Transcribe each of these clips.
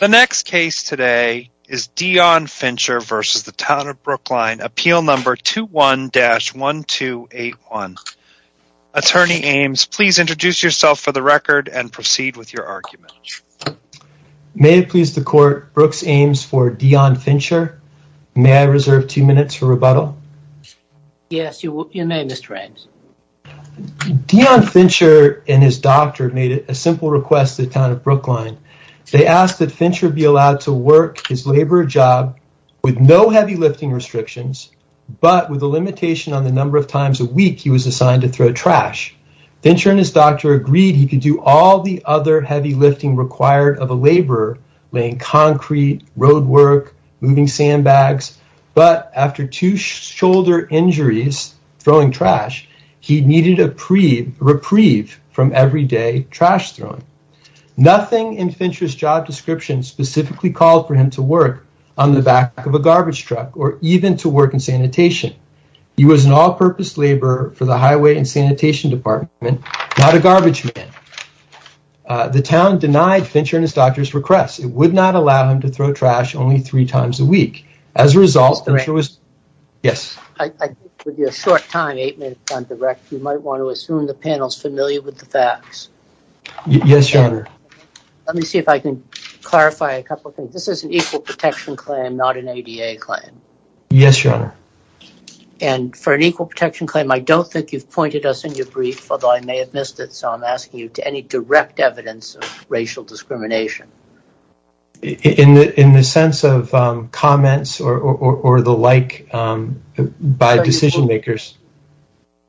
The next case today is Dion Fincher v. Town of Brookline, appeal number 21-1281. Attorney Ames, please introduce yourself for the record and proceed with your argument. May it please the court, Brooks Ames for Dion Fincher. May I reserve two minutes for rebuttal? Yes, you may Mr. Ames. Dion Fincher and his doctor made a simple request to Town of Brookline. They asked that Fincher be allowed to work his labor job with no heavy lifting restrictions, but with a limitation on the number of times a week he was assigned to throw trash. Fincher and his doctor agreed he could do all the other heavy lifting required of a laborer, laying concrete, road work, moving sandbags, but after two shoulder injuries throwing trash, he needed a reprieve from everyday trash throwing. Nothing in Fincher's job description specifically called for him to work on the back of a garbage truck or even to work in sanitation. He was an all-purpose laborer for the highway and sanitation department, not a garbage man. The Town denied Fincher and his doctor's request. It would not allow him to throw trash only three times a week. As a result, yes. With your short time, eight minutes on direct, you might want to assume the panel's familiar with the facts. Yes, your honor. Let me see if I can clarify a couple things. This is an equal protection claim, not an ADA claim. Yes, your honor. And for an equal protection claim, I don't think you've pointed us in your brief, although I may have missed it, so I'm asking you any direct evidence of racial discrimination. In the sense of comments or the like by decision makers.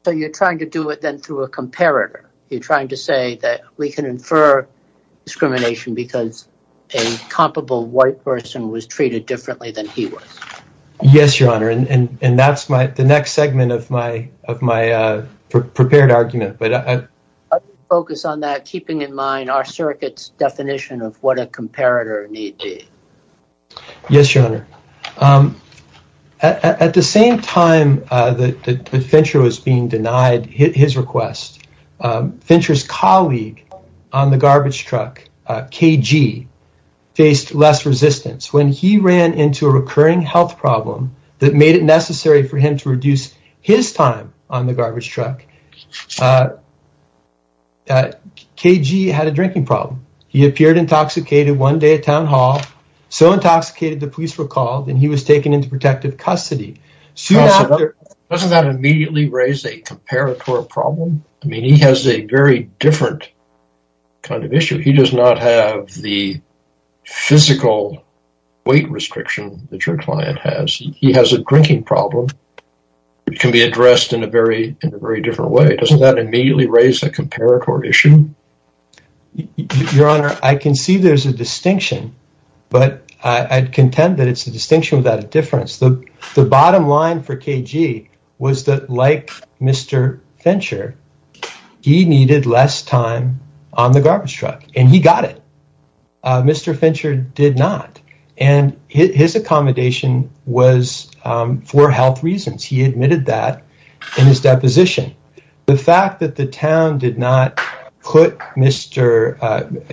So you're trying to do it then through a comparator. You're trying to say that we can infer discrimination because a comparable white person was treated differently than he was. Yes, your honor. And that's the next segment of my prepared argument. I'll focus on that, keeping in mind our circuit's definition of what a comparator need be. Yes, your honor. At the same time that Fincher was being denied his request, Fincher's colleague on the garbage truck, KG, faced less resistance. When he ran into a recurring health problem that made it necessary for him to reduce his time on the garbage truck, KG had a drinking problem. He appeared intoxicated one day at town hall, so intoxicated the police were called and he was taken into protective custody. Doesn't that immediately raise a comparator problem? I mean, he has a very different kind of issue. He does not have the physical weight restriction that your client has. He has a drinking problem. It can be addressed in a very different way. Doesn't that immediately raise a comparator issue? Your honor, I can see there's a distinction, but I'd contend that it's a distinction without a difference. The bottom line for KG was that, like Mr. Fincher, he needed less time on the garbage truck, and he got it. Mr. Fincher did not, and his accommodation was for health reasons. He admitted that in his deposition. The fact that the town did not put Mr.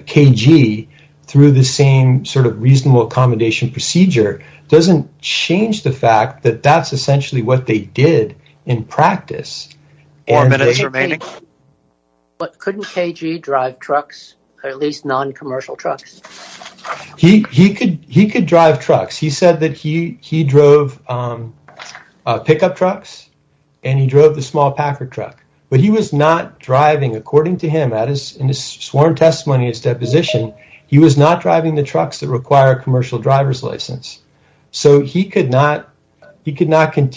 KG through the same sort of reasonable accommodation procedure doesn't change the fact that that's essentially what they did in practice. Four minutes remaining. But couldn't KG drive trucks, or at least non-commercial trucks? He could drive trucks. He said that he drove pickup trucks and he drove the small packer truck, but he was not driving, according to him, in his sworn testimony in his deposition, he was not driving the trucks that require a commercial driver's license. So, he could not continue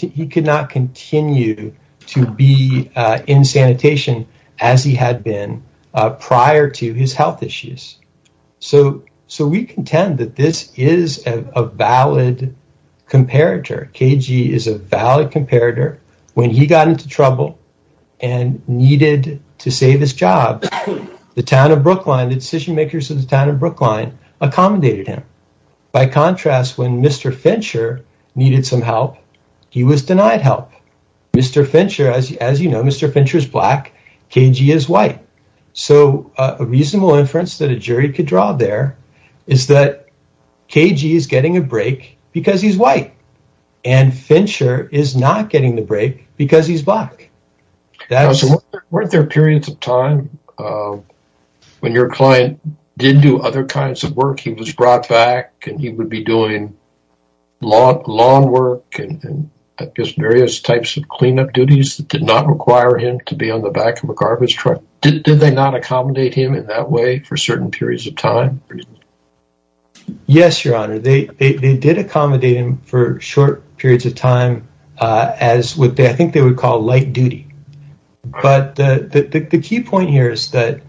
to be in sanitation as he had been prior to his health issues. So, we contend that this is a valid comparator. KG is a valid comparator. When he got into trouble and needed to save his job, the decision makers of the town of Brookline accommodated him. By contrast, when Mr. Fincher needed some help, he was denied help. Mr. Fincher, as you know, Mr. Fincher is black. KG is white. So, a reasonable inference that a jury could draw there is that KG is getting a break because he's white and Fincher is not getting the break because he's black. So, weren't there periods of time when your client did do other kinds of work? He was brought back and he would be doing lawn work and just various types of cleanup duties that did not require him to be on the back of a garbage truck. Did they not accommodate him in that way for certain periods of time? Yes, your honor. They did accommodate him for short periods of time as what I think they would call light duty. But the key point here is that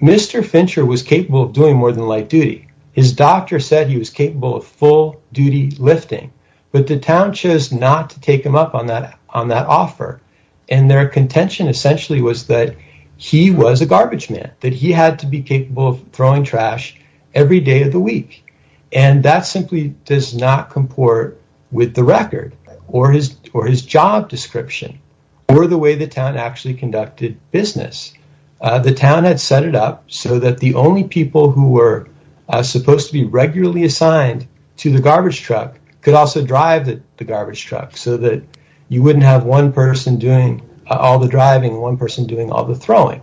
Mr. Fincher was capable of doing more than light duty lifting, but the town chose not to take him up on that offer. And their contention essentially was that he was a garbage man, that he had to be capable of throwing trash every day of the week. And that simply does not comport with the record or his job description or the way the town actually conducted business. The town had set it up so that the only people who were supposed to be assigned to the garbage truck could also drive the garbage truck so that you wouldn't have one person doing all the driving, one person doing all the throwing.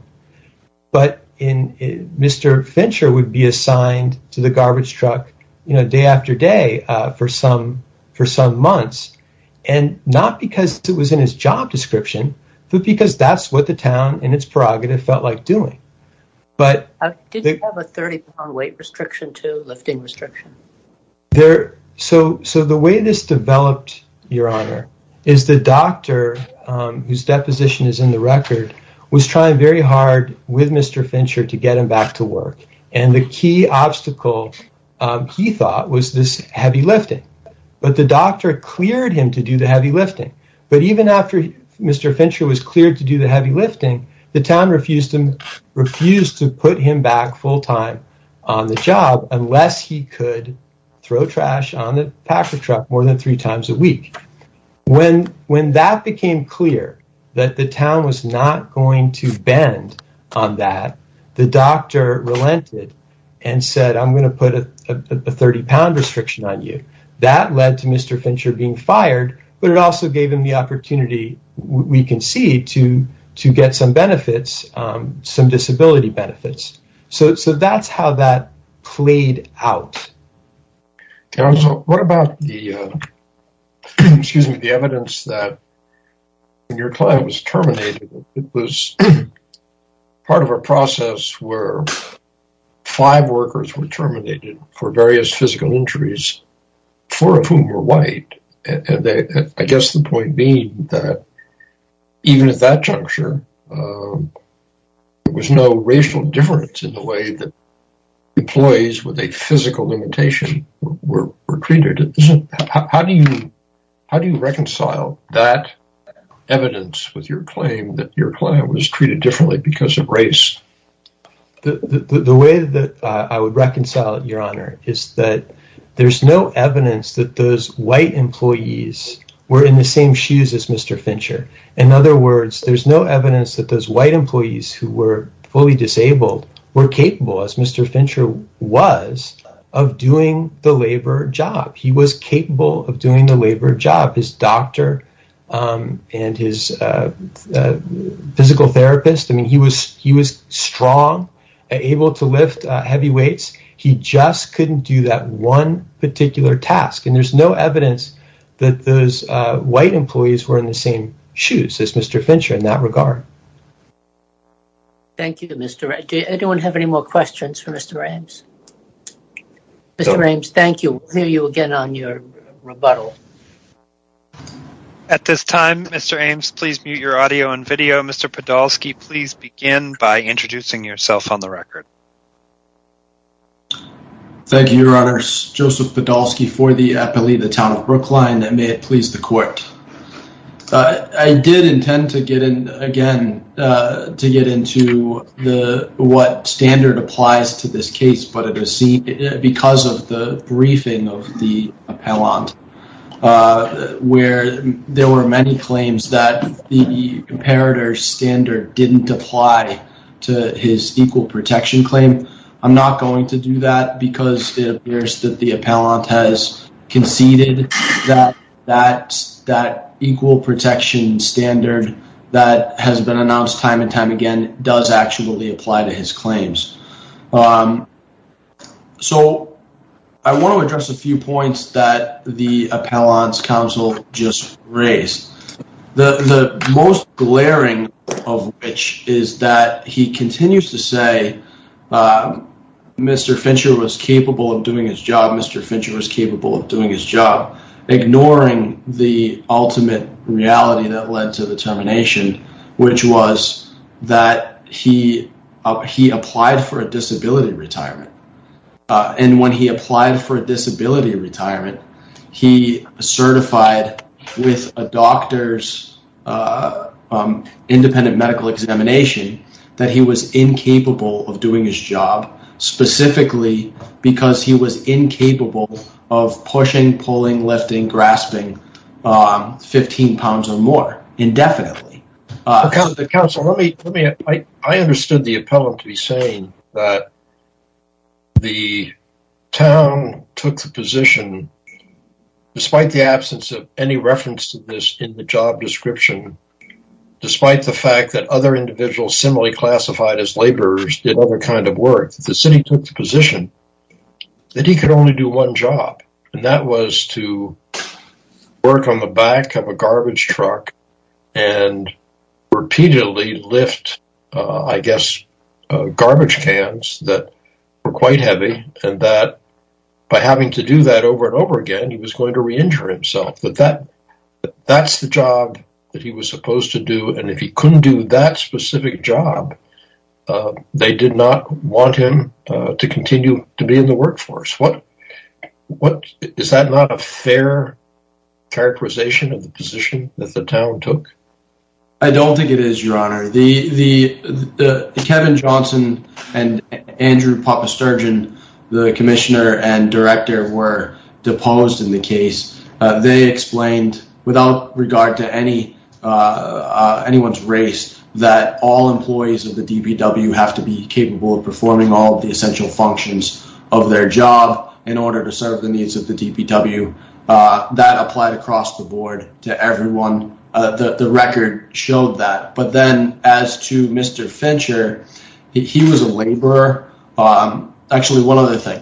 But Mr. Fincher would be assigned to the garbage truck day after day for some months. And not because it was in his job description, but because that's what the town in its prerogative felt like doing. But did you have a 30-pound weight restriction too, lifting restriction? So the way this developed, your honor, is the doctor whose deposition is in the record was trying very hard with Mr. Fincher to get him back to work. And the key obstacle he thought was this heavy lifting. But the doctor cleared him to do the heavy lifting. But even after Mr. Fincher was cleared to do the heavy lifting, the town refused to put him back full-time on the job unless he could throw trash on the packer truck more than three times a week. When that became clear that the town was not going to bend on that, the doctor relented and said, I'm going to put a 30-pound restriction on you. That led to Mr. Fincher being fired, but it also gave him the opportunity, we can see, to get some benefits, some disability benefits. So that's how that played out. What about the, excuse me, the evidence that when your client was terminated, it was part of a process where five workers were terminated for various physical injuries, four of whom were white. And I guess the point being that even at that juncture, there was no racial difference in the way that employees with a physical limitation were treated. How do you reconcile that evidence with your claim that your client was treated differently because of race? The way that I would reconcile it, Your Honor, is that there's no evidence that those white employees were in the same shoes as Mr. Fincher. In other words, there's no evidence that those white employees who were fully disabled were capable, as Mr. Fincher was, of doing the labor job. He was capable of doing the labor job. His doctor and his physical therapist, I mean, he was strong, able to lift heavy weights. He just couldn't do that one particular task. And there's no evidence that those white employees were in the same shoes as Mr. Fincher in that regard. Thank you, Mr. Wright. Does anyone have any more questions for Mr. Ames? Mr. Ames, thank you. We'll hear you again on your rebuttal. At this time, Mr. Ames, please mute your audio and video. Mr. Podolsky, please begin by introducing yourself on the record. Thank you, Your Honors. Joseph Podolsky for the appellee, the Town of Brookline, and may it please the court. I did intend to get in again to get into what standard applies to this case, but it was seen because of the briefing of the appellant, where there were many claims that the Imperator standard didn't apply to his equal protection claim. I'm not going to do that because it appears that the appellant has conceded that that equal protection standard that has been announced time and time again does actually apply to his claims. So, I want to address a few points that the appellant's counsel just raised. The most glaring of which is that he continues to say Mr. Fincher was capable of doing his job, Mr. Fincher was capable of doing his job, ignoring the ultimate reality that led to the termination, which was that he applied for a disability retirement. And when he applied for a disability retirement, he certified with a doctor's independent medical examination that he was incapable of doing his job specifically because he was incapable of pushing, pulling, lifting, grasping 15 pounds or more I understood the appellant to be saying that the town took the position, despite the absence of any reference to this in the job description, despite the fact that other individuals similarly classified as laborers did other kinds of work, the city took the position that he could only do one job. And that was to work on the back of a garbage truck and repeatedly lift, I guess, garbage cans that were quite heavy and that by having to do that over and over again, he was going to re-injure himself. But that's the job that he was supposed to do. And if he couldn't do that specific job, they did not want him to continue to be in the workforce. Is that not a fair characterization of the position that the town took? I don't think it is, your honor. Kevin Johnson and Andrew Papasturgeon, the commissioner and director, were deposed in the case. They explained, without regard to anyone's race, that all employees of the DPW have to be capable of performing all the essential functions of their job in order to serve the needs of the DPW. That applied across the board to everyone. The record showed that. But then as to Mr. Fincher, he was a laborer. Actually, one other thing.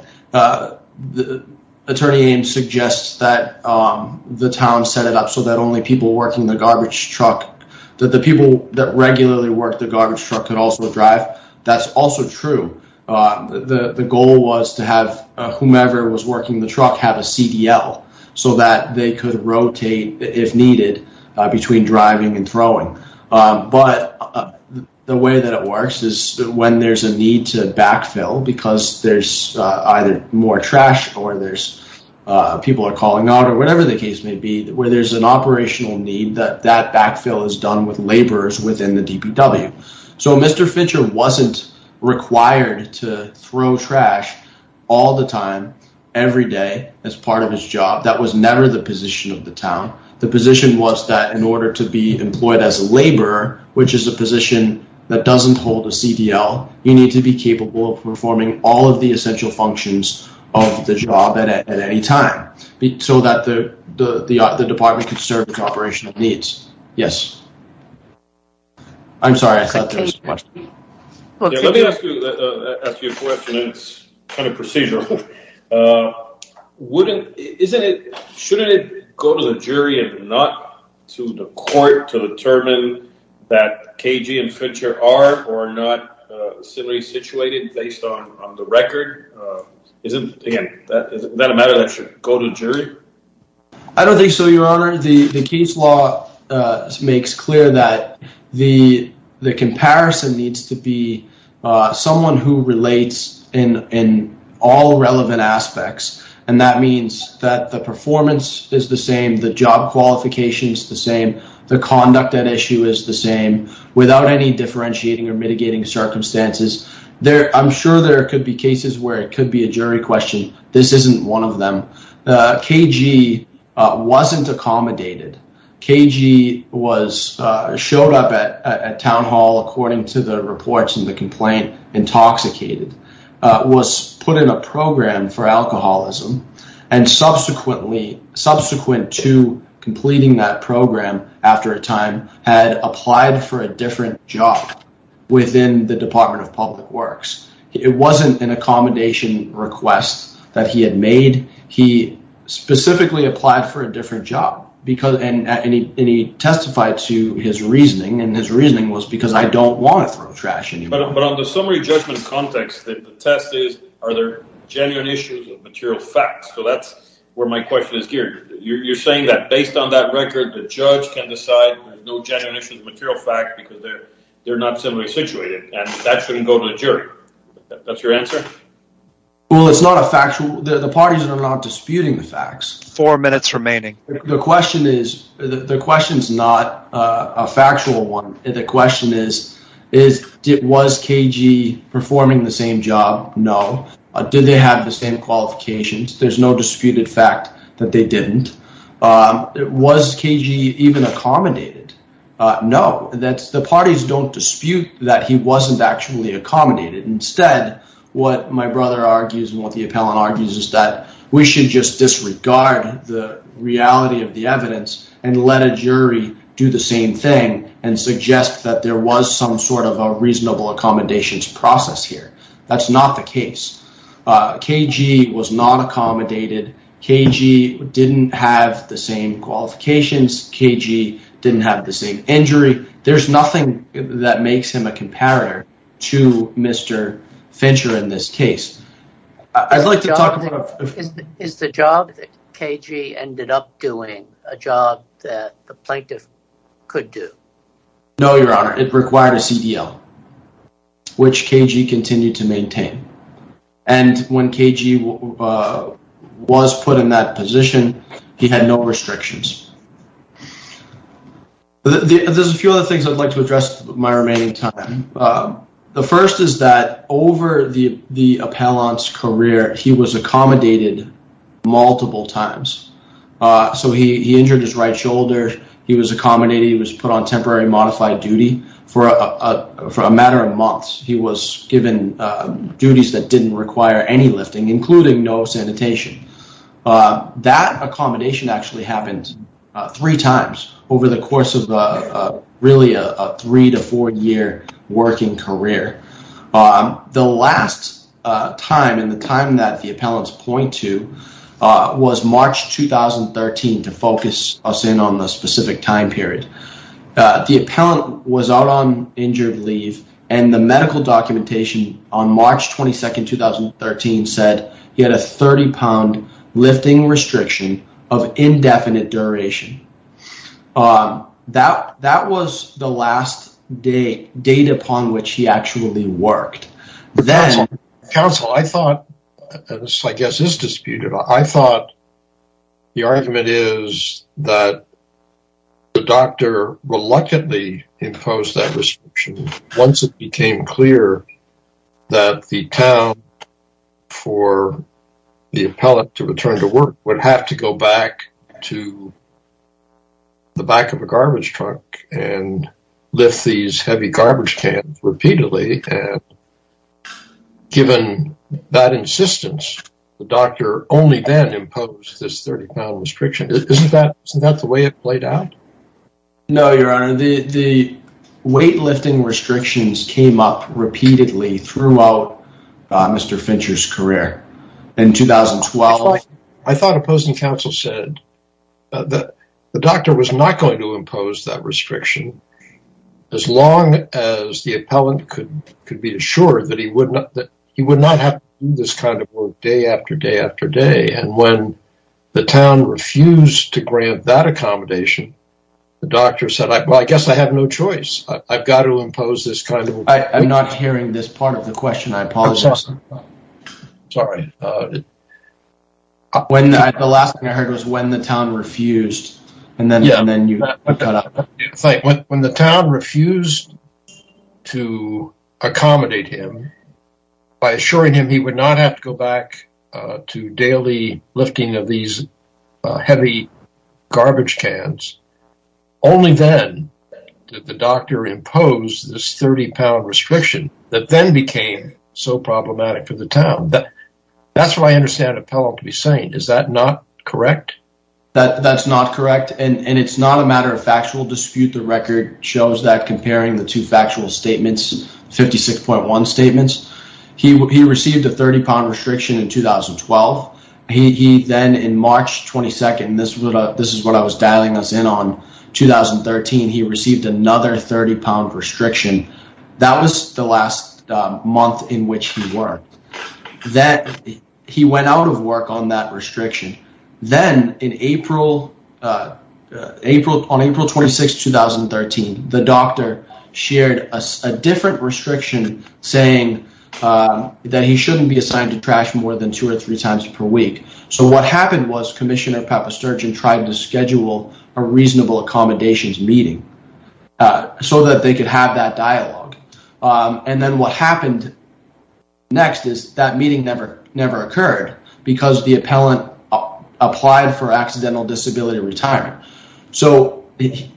Attorney Ames suggests that the town set it up so that only people working the garbage truck, that the people that regularly work the garbage truck could also drive. That's also true. The goal was to have whomever was working the truck have a CDL so that they could rotate, if needed, between driving and throwing. But the way that it works is when there's a need to backfill because there's either more trash or there's people are calling out or whatever the case may be, where there's an operational need that that wasn't required to throw trash all the time, every day, as part of his job. That was never the position of the town. The position was that in order to be employed as a laborer, which is a position that doesn't hold a CDL, you need to be capable of performing all of the essential functions of the job at any time so that the department could serve its operational needs. Yes. I'm sorry, I thought there was a question. Let me ask you a question. It's kind of procedural. Shouldn't it go to the jury and not to the court to determine that KG and Fincher are or are not similarly situated based on the record? Again, is that a matter that should go to the jury? I don't think so, Your Honor. The case law makes clear that the comparison needs to be someone who relates in all relevant aspects. And that means that the performance is the same, the job qualifications the same, the conduct at issue is the same, without any differentiating or mitigating circumstances. I'm sure there could be cases where it could be a jury question. This isn't one of them. KG wasn't accommodated. KG showed up at Town Hall, according to the reports in the complaint, intoxicated, was put in a program for alcoholism, and subsequently, subsequent to completing that program after a time, had applied for a different job within the that he had made. He specifically applied for a different job. And he testified to his reasoning, and his reasoning was because I don't want to throw trash in here. But on the summary judgment context, the test is, are there genuine issues of material facts? So that's where my question is geared. You're saying that based on that record, the judge can decide there's no genuine issues of material facts because they're not similarly situated, and that shouldn't go to the jury. That's your answer? Well, it's not a factual, the parties are not disputing the facts. Four minutes remaining. The question is, the question is not a factual one. The question is, is, was KG performing the same job? No. Did they have the same qualifications? There's no disputed fact that they didn't. Was KG even accommodated? No. That's, the parties don't actually accommodate it. Instead, what my brother argues and what the appellant argues is that we should just disregard the reality of the evidence and let a jury do the same thing, and suggest that there was some sort of a reasonable accommodations process here. That's not the case. KG was not accommodated. KG didn't have the same qualifications. KG didn't have the same injury. There's nothing that makes him a comparator to Mr. Fincher in this case. Is the job that KG ended up doing a job that the plaintiff could do? No, your honor. It required a CDL, which KG continued to maintain. And when KG was put in that position, he had no restrictions. There's a few other things I'd like to address my remaining time. The first is that over the appellant's career, he was accommodated multiple times. So he injured his right shoulder. He was accommodated. He was put on temporary modified duty for a matter of months. He was given duties that didn't require any lifting, including no sanitation. That accommodation actually happened three times over the course of really a three to four year working career. The last time, and the time that the appellants point to, was March 2013 to focus us in on the specific time period. The appellant was out on injured leave, and the medical documentation on March 22nd, 2013 said he had a 30 pound lifting restriction of indefinite duration. That was the last date upon which he actually worked. Counsel, I thought, and this I guess is disputed, I thought the argument is that the doctor reluctantly imposed that restriction once it became clear that the town for the appellant to return to work would have to go back to the back of a garbage trunk and lift these heavy garbage cans repeatedly. Given that insistence, the doctor only then imposed this 30 pound restriction. Isn't that the way it played out? No, your honor. The weight lifting restrictions came up repeatedly throughout Mr. Fincher's career. In 2012, I thought opposing counsel said that the doctor was not going to impose that restriction as long as the appellant could be assured that he would not have to do day after day after day. When the town refused to grant that accommodation, the doctor said, well, I guess I have no choice. I've got to impose this kind of... I'm not hearing this part of the question. I apologize. Sorry. The last thing I heard was when the town refused. Yeah, when the town refused to accommodate him by assuring him he would not have to go back to daily lifting of these heavy garbage cans, only then did the doctor impose this 30 pound restriction that then became so problematic for the town. That's what I understand appellant to saying. Is that not correct? That's not correct. It's not a matter of factual dispute. The record shows that comparing the two factual statements, 56.1 statements, he received a 30 pound restriction in 2012. He then in March 22nd, this is what I was dialing us in on, 2013, he received another 30 pound restriction. That was the last month in which he worked. He went out of work on that restriction. Then on April 26th, 2013, the doctor shared a different restriction saying that he shouldn't be assigned to trash more than two or three times per week. So what happened was so that they could have that dialogue. Then what happened next is that meeting never occurred because the appellant applied for accidental disability retirement.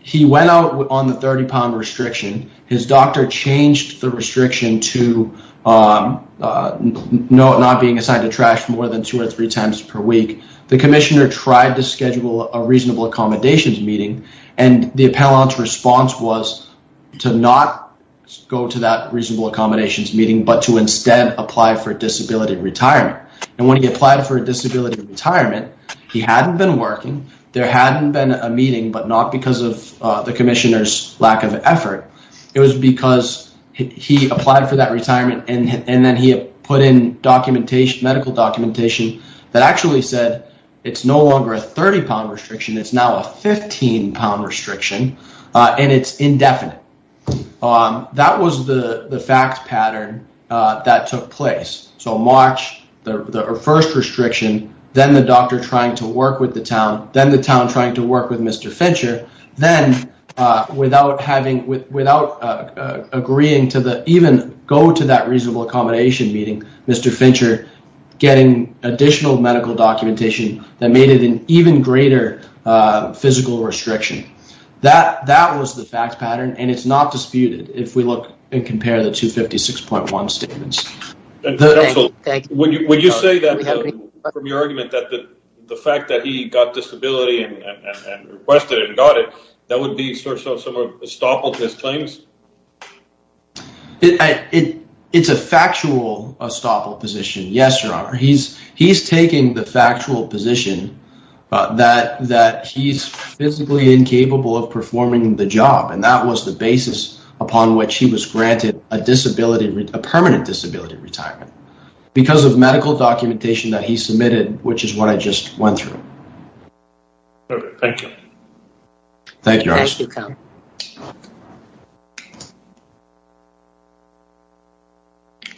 He went out on the 30 pound restriction. His doctor changed the restriction to not being assigned to trash more than two or three times per week. The commissioner tried to schedule a reasonable accommodations meeting. The appellant's response was to not go to that reasonable accommodations meeting, but to instead apply for disability retirement. When he applied for disability retirement, he hadn't been working. There hadn't been a meeting, but not because of the commissioner's lack of effort. It was because he applied for that retirement and then he put in medical documentation that actually said it's no longer a 30 pound restriction. It's now a 15 pound restriction and it's indefinite. That was the fact pattern that took place. So March, the first restriction, then the doctor trying to work with the town, then the town trying to work with Mr. Fincher, then without agreeing to even go to that reasonable accommodation meeting, Mr. Fincher getting additional medical documentation that made it an even greater physical restriction. That was the fact pattern and it's not disputed if we look and compare the 256.1 statements. Thank you. Would you say that from your argument that the fact that he got disability and requested it and got it, that would be sort of some of his claims? It's a factual estoppel position. Yes, your honor. He's taking the factual position that he's physically incapable of performing the job and that was the basis upon which he was granted a permanent disability retirement because of medical documentation that he submitted, which is what I just went through. Thank you. Thank you, Arsene.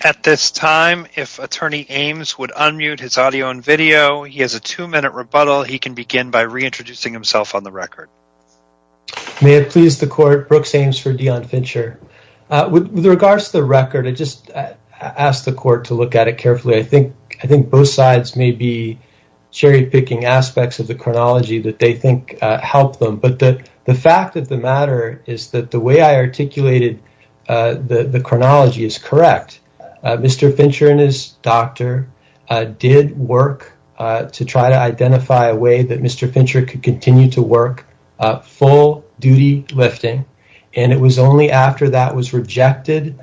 At this time, if attorney Ames would unmute his audio and video, he has a two minute rebuttal. He can begin by reintroducing himself on the record. May it please the court, Brooks Ames for Dion Fincher. With regards to the record, I just asked the court to look at it carefully. I think both sides may be cherry picking aspects of the record. I think the way that you articulated the chronology is correct. Mr. Fincher and his doctor did work to try to identify a way that Mr. Fincher could continue to work full duty lifting and it was only after that was rejected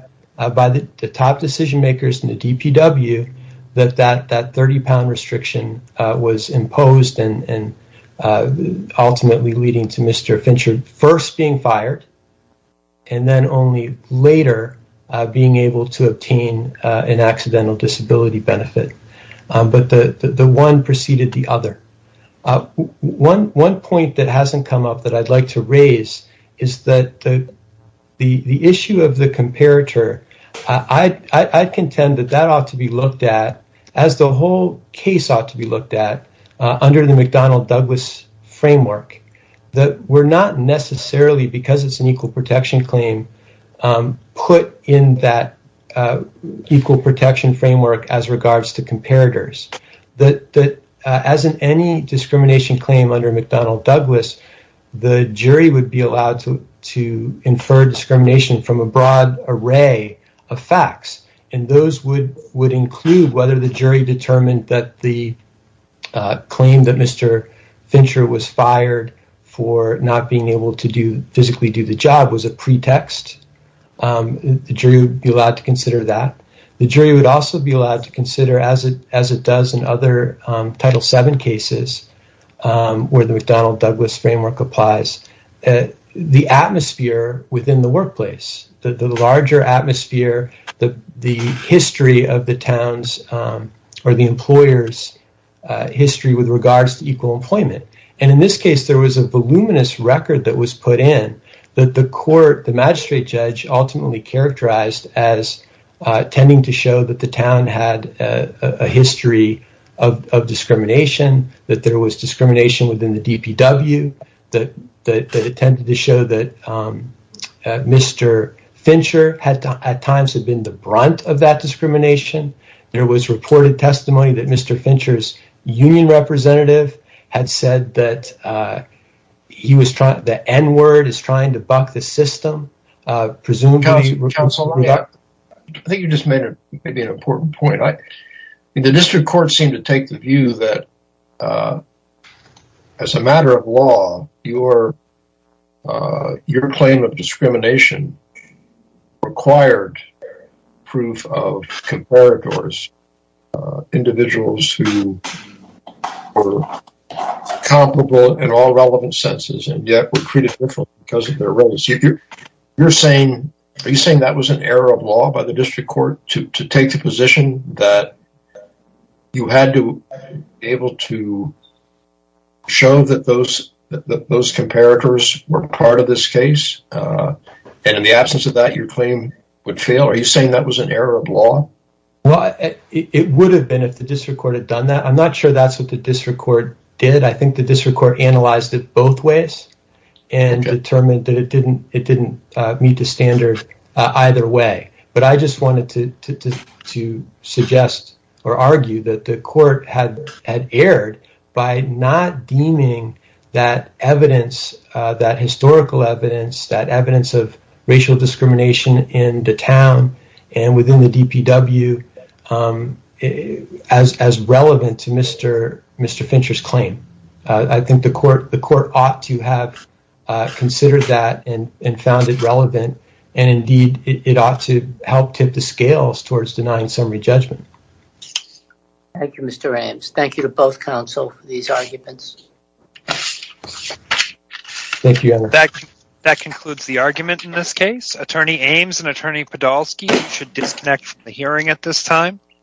by the top decision makers in the DPW that that 30 pound restriction was imposed and ultimately leading to Mr. Fincher first being fired and then only later being able to obtain an accidental disability benefit. But the one preceded the other. One point that hasn't come up that I'd like to raise is that the issue of the comparator, I contend that that ought to be looked at as the whole case ought to be looked at under the McDonnell Douglas framework. That we're not necessarily, because it's an equal protection claim, put in that equal protection framework as regards to comparators. As in any discrimination claim under McDonnell Douglas, the jury would be allowed to infer discrimination from a broad array of facts and those would include whether the jury determined that the claim that Mr. Fincher was fired for not being able to physically do the job was a pretext. The jury would be allowed to consider that. The jury would also be allowed to consider, as it does in other Title VII cases where the McDonnell Douglas framework applies, the atmosphere within the workplace, the larger atmosphere, the history of the town's or the employer's history with regards to equal employment. In this case, there was a voluminous record that was put in that the court, the magistrate judge, ultimately characterized as tending to show that the town had a history of discrimination, that there was discrimination within the DPW, that it tended to show that Mr. Fincher at times had been the brunt of that discrimination. There was reported testimony that Mr. Fincher's union representative had said that the N-word is trying to buck the system. I think you just made an important point. The district court seemed to your claim of discrimination required proof of comparators, individuals who were comparable in all relevant senses and yet were treated differently because of their roles. You're saying that was an error of law by the district court to take the position that you had to be able to show that those comparators were part of this case, and in the absence of that, your claim would fail? Are you saying that was an error of law? Well, it would have been if the district court had done that. I'm not sure that's what the district court did. I think the district court analyzed it both ways and determined that it or argued that the court had erred by not deeming that evidence, that historical evidence, that evidence of racial discrimination in the town and within the DPW as relevant to Mr. Fincher's claim. I think the court ought to have considered that and found it relevant. Indeed, it ought to help tip the scales towards denying summary judgment. Thank you, Mr. Ames. Thank you to both counsel for these arguments. Thank you. That concludes the argument in this case. Attorney Ames and Attorney Podolsky, you should disconnect from the hearing at this time.